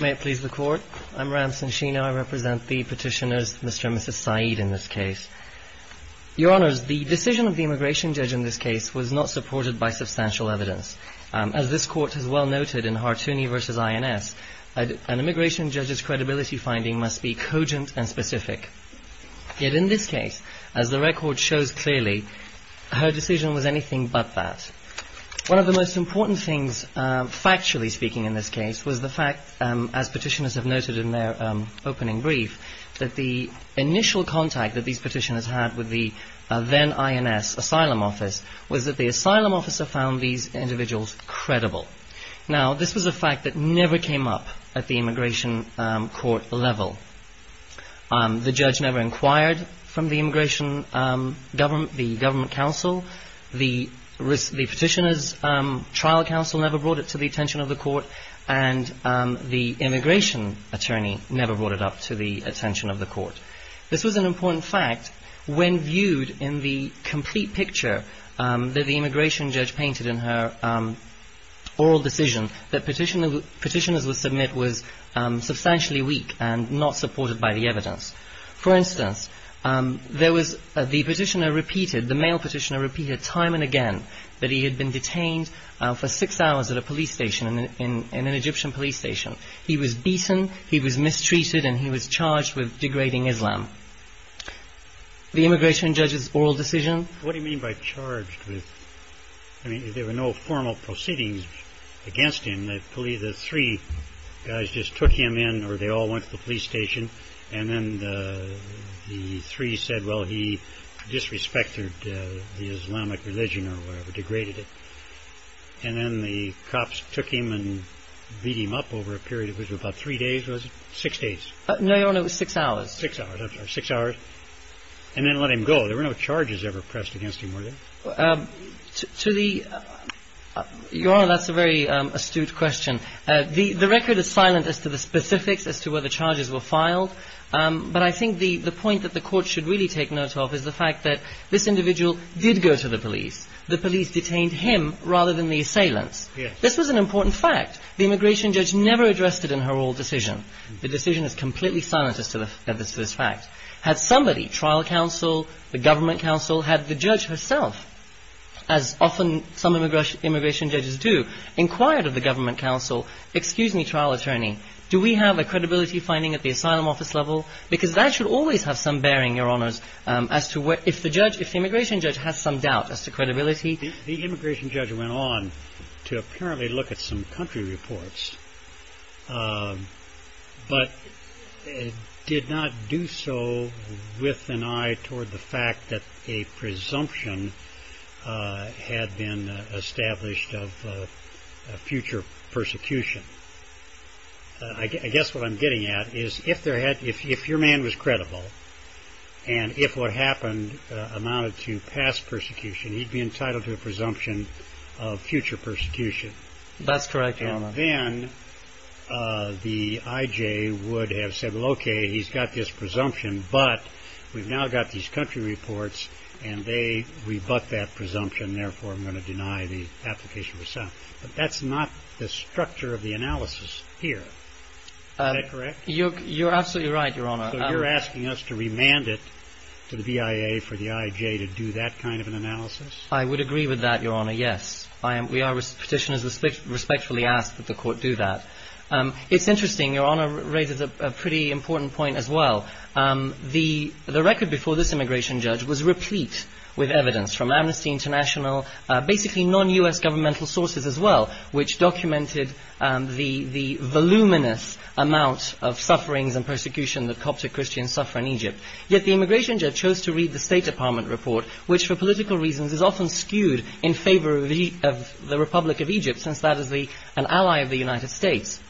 May it please the Court. I'm Ram Sanshina. I represent the petitioners Mr. and Mrs. Saeed in this case. Your Honours, the decision of the immigration judge in this case was not supported by substantial evidence. As this Court has well noted in Hartooni v. INS, an immigration judge's credibility finding must be cogent and specific. Yet in this case, as the record shows clearly, her One of the most important things, factually speaking in this case, was the fact, as petitioners have noted in their opening brief, that the initial contact that these petitioners had with the then INS asylum office was that the asylum officer found these individuals credible. Now this was a fact that never came up at the immigration court level. The judge never trial counsel never brought it to the attention of the court and the immigration attorney never brought it up to the attention of the court. This was an important fact when viewed in the complete picture that the immigration judge painted in her oral decision that petitioners would submit was substantially weak and not supported by the evidence. For instance, there he had been detained for six hours at a police station, in an Egyptian police station. He was beaten, he was mistreated, and he was charged with degrading Islam. The immigration judge's oral decision. What do you mean by charged? I mean, there were no formal proceedings against him. The three guys just took him in or they all went to the police station and then the three said, well, he disrespected the Islamic religion or whatever, degraded it. And then the cops took him and beat him up over a period of about three days, was it? Six days. No, Your Honor, it was six hours. Six hours. And then let him go. There were no charges ever pressed against him, were there? Your Honor, that's a very astute question. The record is silent as to the specifics as to whether charges were filed. But I think the point that the court should really take note of is the fact that this individual did go to the police. The police detained him rather than the assailants. This was an important fact. The immigration judge never addressed it in her oral decision. The decision is completely silent as to this fact. Had somebody, trial counsel, the government counsel, had the judge herself, as often some immigration judges do, inquired of the government counsel, excuse me, trial attorney, do we have a credibility finding at the asylum office level? Because that should always have some bearing, Your Honors, as to where, if the judge, if the immigration judge has some doubt as to credibility. The immigration judge went on to apparently look at some country reports, but did not do so with an eye toward the fact that a presumption had been established of future persecution. I guess what I'm getting at is if your man was credible, and if what happened amounted to past persecution, he'd be entitled to a presumption of future persecution. That's correct, Your Honor. And then the I.J. would have said, well, okay, he's got this presumption, but we've now got these country reports and they rebut that presumption, therefore I'm going to deny the application of asylum. But that's not the structure of the analysis here. Is that correct? You're absolutely right, Your Honor. So you're asking us to remand it to the BIA for the I.J. to do that kind of an analysis? I would agree with that, Your Honor, yes. We are petitioners who respectfully ask that the court do that. It's interesting, Your Honor raises a pretty important point as well. The record before this immigration judge was replete with evidence from Amnesty International, basically non-U.S. governmental sources as well, which documented the voluminous amount of sufferings and persecution that Coptic Christians suffer in Egypt. Yet the immigration judge chose to read the State Department report, which for political reasons is often skewed in favor of the Republic of Egypt, since that is an ally of the United States.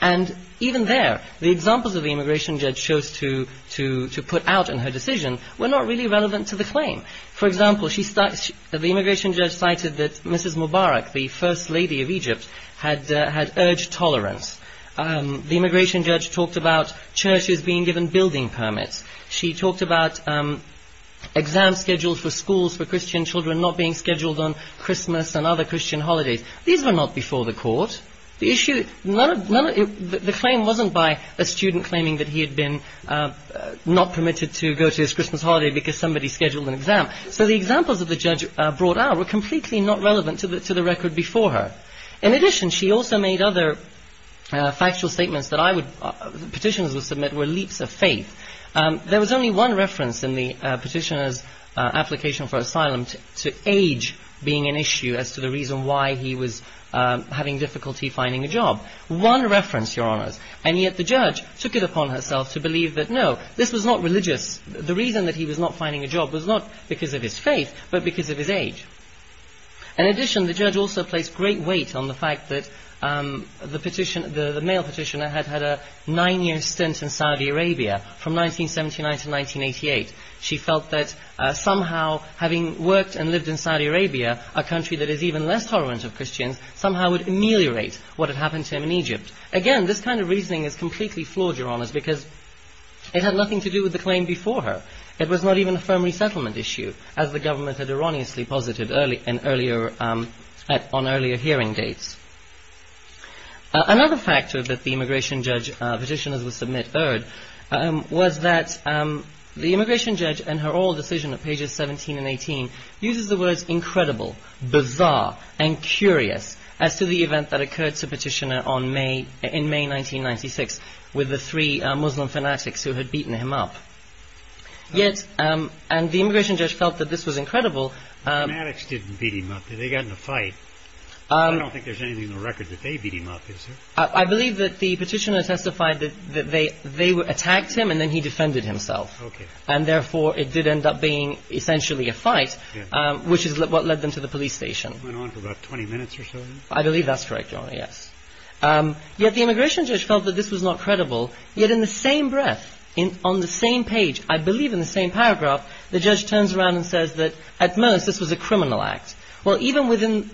And even there, the examples the immigration judge chose to put out in her decision were not really relevant to the claim. For example, the immigration judge cited that Mrs. Mubarak, the first lady of Egypt, had urged tolerance. The immigration judge talked about churches being given building permits. She talked about exam schedules for schools for Christian children not being scheduled on Christmas and other Christian holidays. These were not before the court. The claim wasn't by a student claiming that he had been not permitted to go to his Christmas holiday because somebody scheduled an exam. So the examples that the judge brought out were completely not relevant to the record before her. In addition, she also made other factual statements that petitioners would submit were leaps of faith. There was only one reference in the petitioner's application for asylum to age being an issue as to the reason why he was having difficulty finding a job. One reference, Your Honors. And yet the judge took it upon herself to believe that no, this was not religious. The reason that he was not finding a job was not because of his faith but because of his age. In addition, the judge also placed great weight on the fact that the male petitioner had had a nine-year stint in Saudi Arabia from 1979 to 1988. She felt that somehow having worked and lived in Saudi Arabia, a country that is even less tolerant of Christians, somehow would ameliorate what had happened to him in Egypt. Again, this kind of reasoning is completely flawed, Your Honors, because it had nothing to do with the claim before her. It was not even a firm resettlement issue, as the government had erroneously posited on earlier hearing dates. Another factor that the immigration judge petitioners would submit heard was that the immigration judge, in her oral decision of pages 17 and 18, uses the words incredible, bizarre, and curious as to the event that occurred to the petitioner in May 1996 with the three Muslim fanatics who had beaten him up. Yet, and the immigration judge felt that this was incredible... The fanatics didn't beat him up. They got in a fight. I don't think there's anything in the record that they beat him up, is there? I believe that the petitioner testified that they attacked him and then he defended himself, and therefore it did end up being essentially a fight, which is what led them to the police station. It went on for about 20 minutes or so, then? I believe that's correct, Your Honor, yes. Yet the immigration judge felt that this was not credible, yet in the same breath, on the same page, I believe in the same paragraph, the judge turns around and says that, at most, this was a criminal act. Well, even within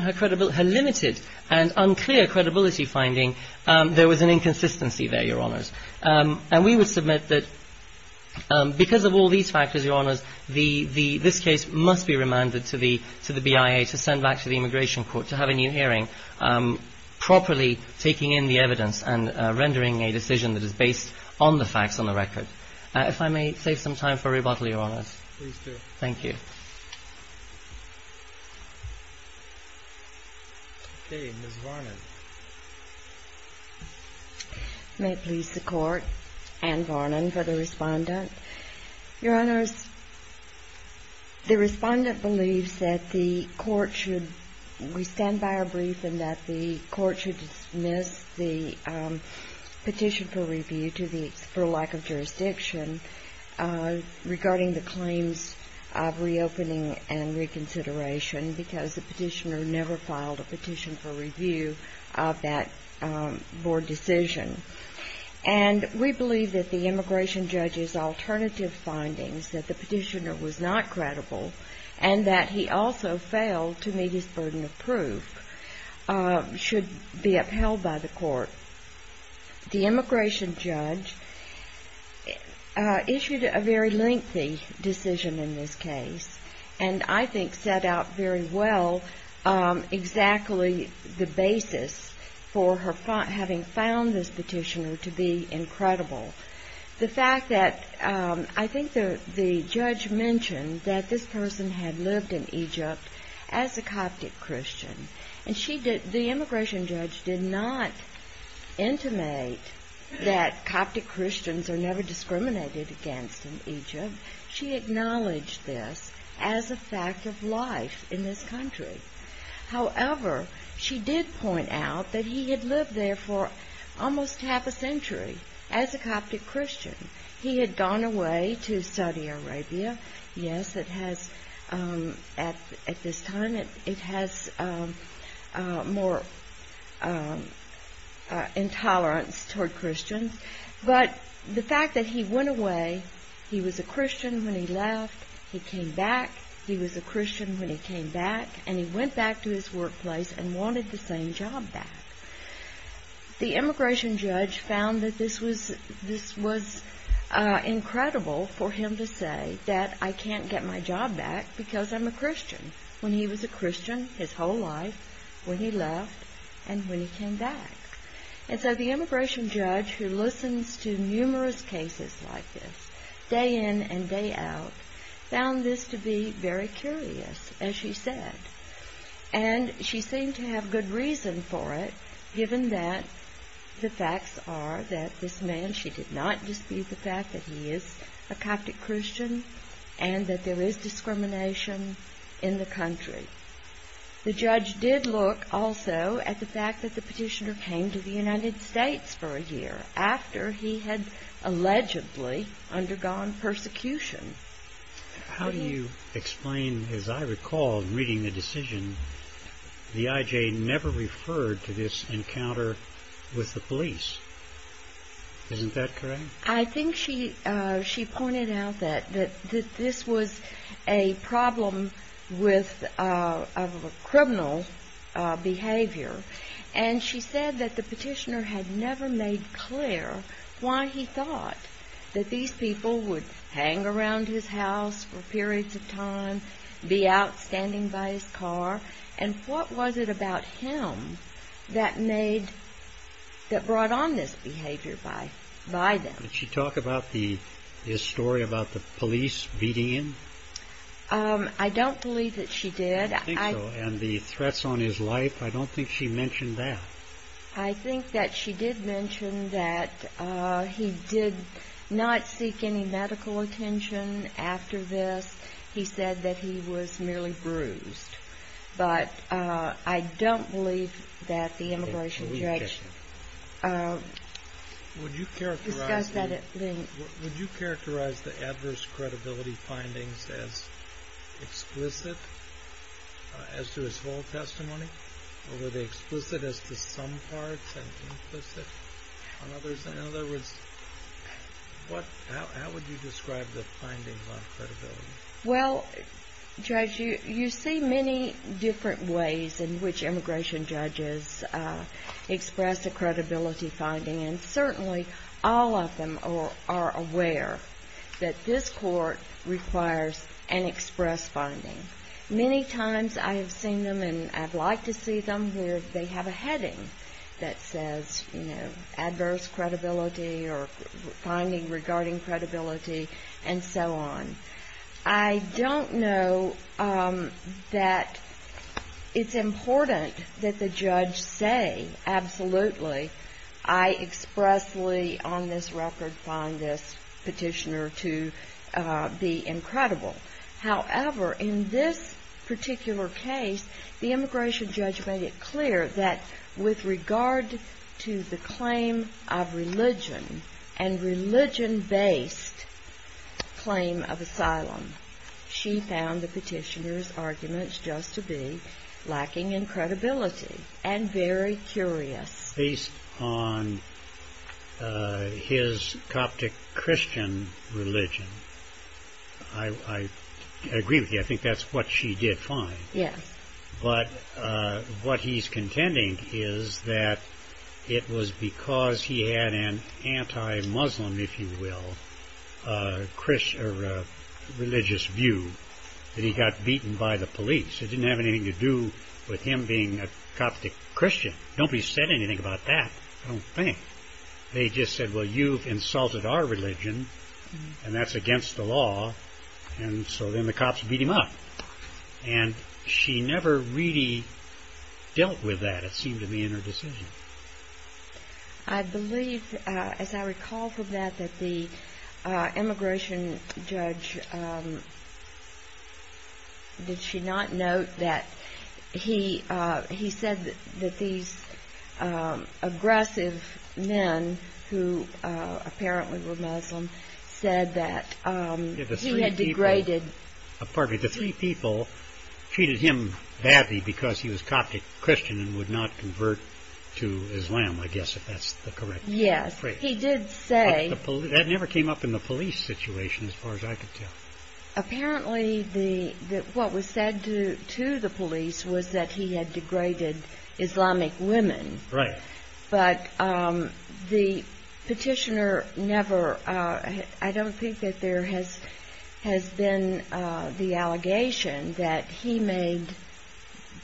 her limited and unclear credibility finding, there was an inconsistency there, Your Honors. And we would submit that because of all these factors, Your Honors, this case must be remanded to the BIA to send back to the immigration court to have a new hearing, properly taking in the evidence and rendering a decision that is based on the facts, on the record. If I may save some time for rebuttal, Your Honors. Please do. Thank you. Okay. Ms. Varnon. May it please the Court? Anne Varnon for the Respondent. Your Honors, the Respondent believes that the Court should, we stand by our brief and that the Court should dismiss the petition for review for lack of jurisdiction regarding the claims of reopening and reconsideration because the petitioner never filed a petition for review of that board decision. And we believe that the immigration judge's alternative findings, that the petitioner was not credible and that he also failed to meet his burden of proof, should be upheld by the Court. The immigration judge issued a very lengthy decision in this case, and I think set out very well exactly the basis for her having found this petitioner to be incredible. The fact that, I think the judge mentioned that this person had lived in Egypt as a Coptic Christian, and the immigration judge did not intimate that Coptic Christians are never discriminated against in Egypt. She acknowledged this as a fact of life in this country. However, she did point out that he had lived there for almost half a century as a Coptic Christian. He had gone away to Saudi Arabia. Yes, at this time it has more intolerance toward Christians, but the fact that he went away, he was a Christian when he left, he came back, he was a Christian when he came back, and he went back to his workplace and wanted the same job back. The immigration judge found that this was incredible for him to say that I can't get my job back because I'm a Christian, when he was a Christian his whole life, when he left, and when he came back. And so the immigration judge, who listens to numerous cases like this, day in and day out, found this to be very curious, as she said. And she seemed to have good reason for it, given that the facts are that this man, she did not dispute the fact that he is a Coptic Christian, and that there is discrimination in the country. The judge did look also at the fact that the petitioner came to the United States for a year after he had allegedly undergone persecution. How do you explain, as I recall reading the decision, the IJ never referred to this encounter with the police? Isn't that correct? I think she pointed out that this was a problem with criminal behavior, and she said that the petitioner had never made clear why he thought that these people would hang around his house for periods of time, be out standing by his car, and what was it about him that brought on this behavior by them? Did she talk about his story about the police beating him? I don't believe that she did. I don't think so. And the threats on his life, I don't think she mentioned that. I think that she did mention that he did not seek any medical attention after this. He said that he was merely bruised, but I don't believe that the immigration judge discussed that at length. Would you characterize the adverse credibility findings as explicit as to his full testimony, or were they explicit as to some parts and implicit on others? In other words, what, how would you describe the findings on credibility? Well, Judge, you see many different ways in which immigration judges express a credibility finding, and certainly all of them are aware that this court requires an express finding. Many times I have seen them and I'd like to see them where they have a heading that says, you know, adverse credibility or finding regarding credibility and so on. I don't know that it's important that the judge say, absolutely, I expressly on this record find this petitioner to be incredible. However, in this particular case, the immigration judge made it clear that with regard to the claim of religion and religion-based claim of asylum, she found the petitioner's arguments just to be lacking in credibility and very curious. Based on his Coptic Christian religion, I agree with you. I think that's what she did find. But what he's contending is that it was because he had an anti-Muslim, if you will, religious view that he got beaten by the police. It didn't have anything to do with him being a Coptic Christian. Nobody said anything about that, I don't think. They just said, well, you've insulted our religion and that's against the law, and so then the cops beat him up. And she never really dealt with that, it seemed to me, in her decision. I believe, as I recall from that, that the immigration judge, did she not note that he said that these aggressive men, who apparently were Muslim, said that he had degraded... Pardon me, the three people treated him badly because he was Coptic Christian and would not convert to Islam, I guess, if that's the correct phrase. Yes, he did say... That never came up in the police situation, as far as I could tell. Apparently, what was said to the police was that he had degraded Islamic women. Right. But the petitioner never... I don't think that there has been the allegation that he made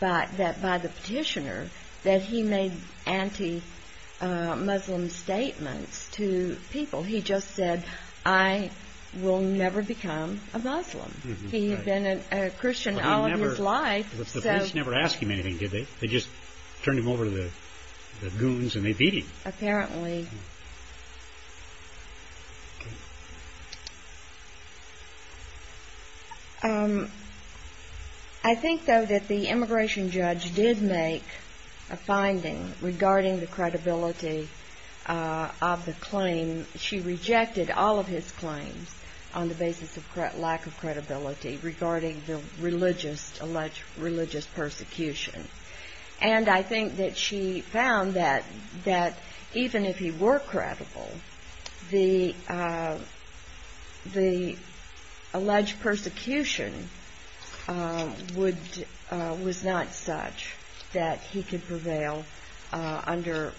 by the petitioner, that he made anti-Muslim statements to people. He just said, I will never become a Muslim. He had been a Christian all of his life, so... The police never asked him anything, did they? They just turned him over to the goons and they beat him. Apparently. I think, though, that the immigration judge did make a finding regarding the credibility of the claim. She rejected all of his claims on the basis of lack of credibility regarding the religious persecution. And I think that she found that even if he was a Christian, if he were credible, the alleged persecution was not such that he could prevail under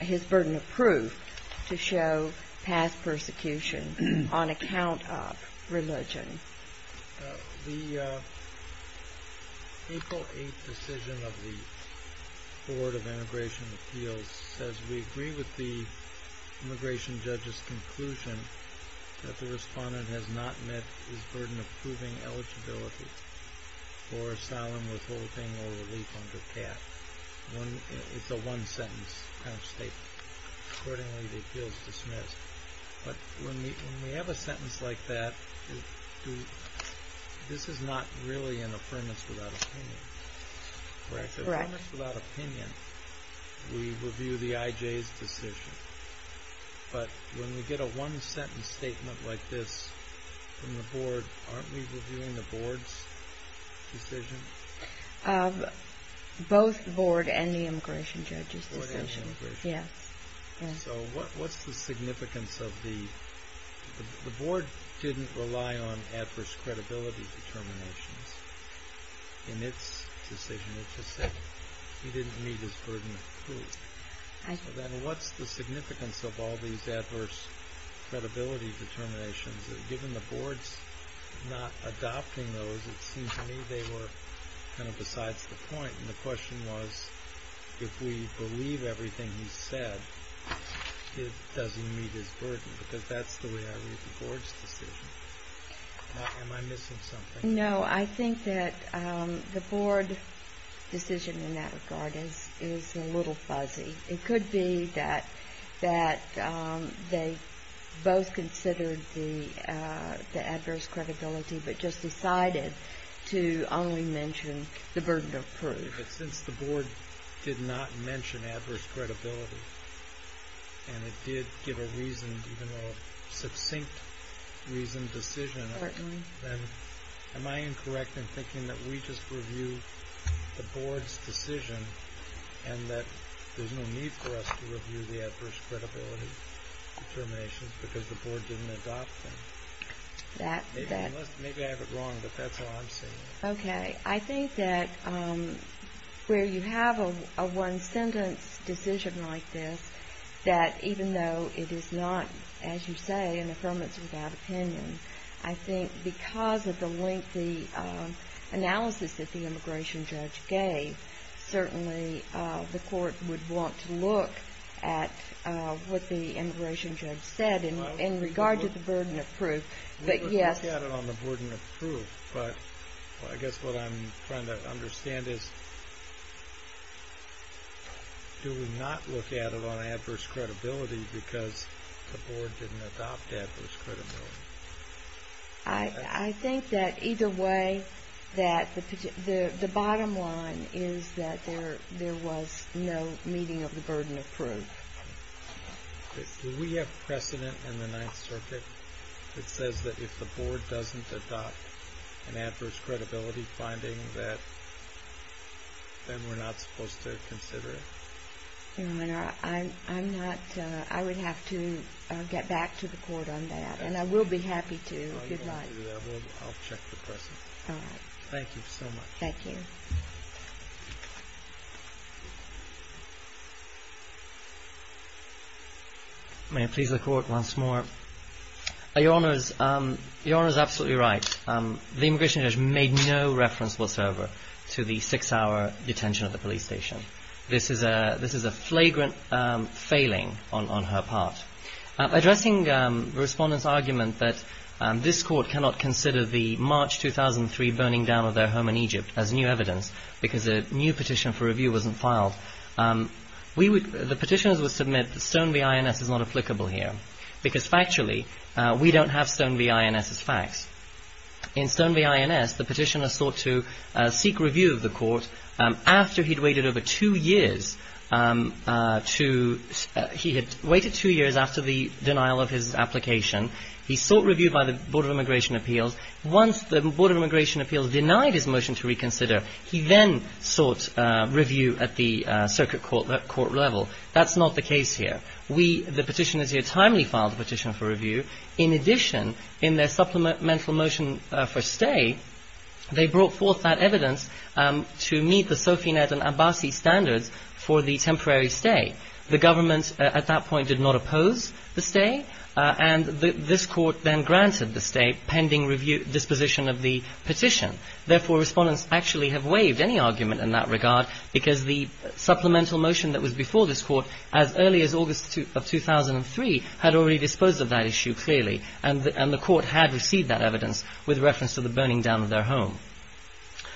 his burden of proof to show past persecution on account of religion. The April 8th decision of the Board of Immigration Appeals says, we agree with the immigration judge's conclusion that the respondent has not met his burden of proving eligibility for asylum, withholding, or relief under CAF. It's a one-sentence kind of statement. Accordingly, the appeal is dismissed. But when we have a sentence like that, this is not really an affirmation without opinion. That's correct. It's an affirmation without opinion. We review the IJ's decision. But when we get a one-sentence statement like this from the board, aren't we reviewing the board's decision? Both the board and the immigration judge's decision, yes. So what's the significance of the... The board didn't rely on adverse credibility determinations in its decision. It just said he didn't meet his burden of proof. What's the significance of all these adverse credibility determinations? Given the board's not adopting those, it seems to me they were kind of besides the point. The question was, if we believe everything he said, it doesn't meet his burden, because that's the way I read the board's decision. Am I missing something? No, I think that the board decision in that regard is a little fuzzy. It could be that they both considered the adverse credibility, but just decided to only mention the burden of proof. Since the board did not mention adverse credibility, and it did give a reason, even though a succinct reasoned decision, am I incorrect in thinking that we just review the board's decision, and that there's no need for us to review the adverse credibility determinations because the board didn't adopt them? Maybe I have it wrong, but that's how I'm seeing it. Okay. I think that where you have a one-sentence decision like this, that even though it is not, as you say, an affirmation without opinion, I think because of the lengthy analysis that the immigration judge gave, certainly the court would want to look at what the immigration judge said in regard to the burden of proof, but yes. We would look at it on the burden of proof, but I guess what I'm trying to understand is, do we not look at it on adverse credibility because the board didn't adopt adverse credibility? I think that either way that the bottom line is that there was no meeting of the burden of proof. Do we have precedent in the Ninth Circuit that says that if the board doesn't adopt an adverse credibility finding that then we're not supposed to consider it? I'm not, I would have to get back to the court on that, and I will be happy to, good luck. I'll check the precedent. All right. Thank you so much. Thank you. May I please the court once more? Your Honour is absolutely right. The immigration judge made no reference whatsoever to the six-hour detention at the police station. This is a flagrant failing on her part. Addressing the respondent's argument that this court cannot consider the March 2003 burning down of their home in Egypt as new evidence because a new petition for review wasn't filed, the petitioners would submit Stone v. INS is not applicable here because factually we don't have Stone v. INS as facts. In Stone v. INS, the petitioner sought to seek review of the court after he'd waited over two years to, he had waited two years after the denial of his application. He sought review by the Board of Immigration Appeals. Once the Board of Immigration Appeals denied his motion to reconsider, he then sought review at the circuit court level. That's not the case here. The petitioners here timely filed a petition for review. In addition, in their supplemental motion for stay, they brought forth that evidence to meet the Sofinet and Abassi standards for the temporary stay. The government at that point did not oppose the stay and this court then granted the stay pending disposition of the petition. Therefore, respondents actually have waived any argument in that regard because the supplemental motion that was before this court as early as August of 2003 had already disposed of that issue clearly and the court had received that evidence with reference to the burning down of their home.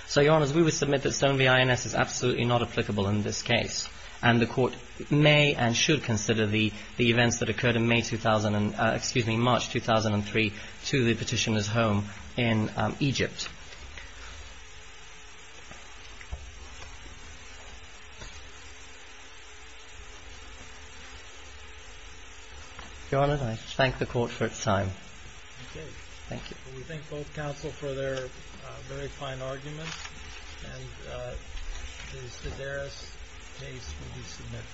So, Your Honours, we would submit that Stone v. INS is absolutely not applicable in this case and the court may and should consider the events that occurred in May 2000, excuse me, March 2003 to the petitioner's home in Egypt. Your Honour, I thank the court for its time. Okay. Thank you. We thank both counsel for their very fine arguments and the Sedaris case will be submitted.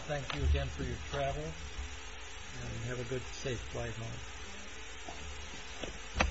Mr. Reiner, thank you again for your travel. And have a good, safe flight home.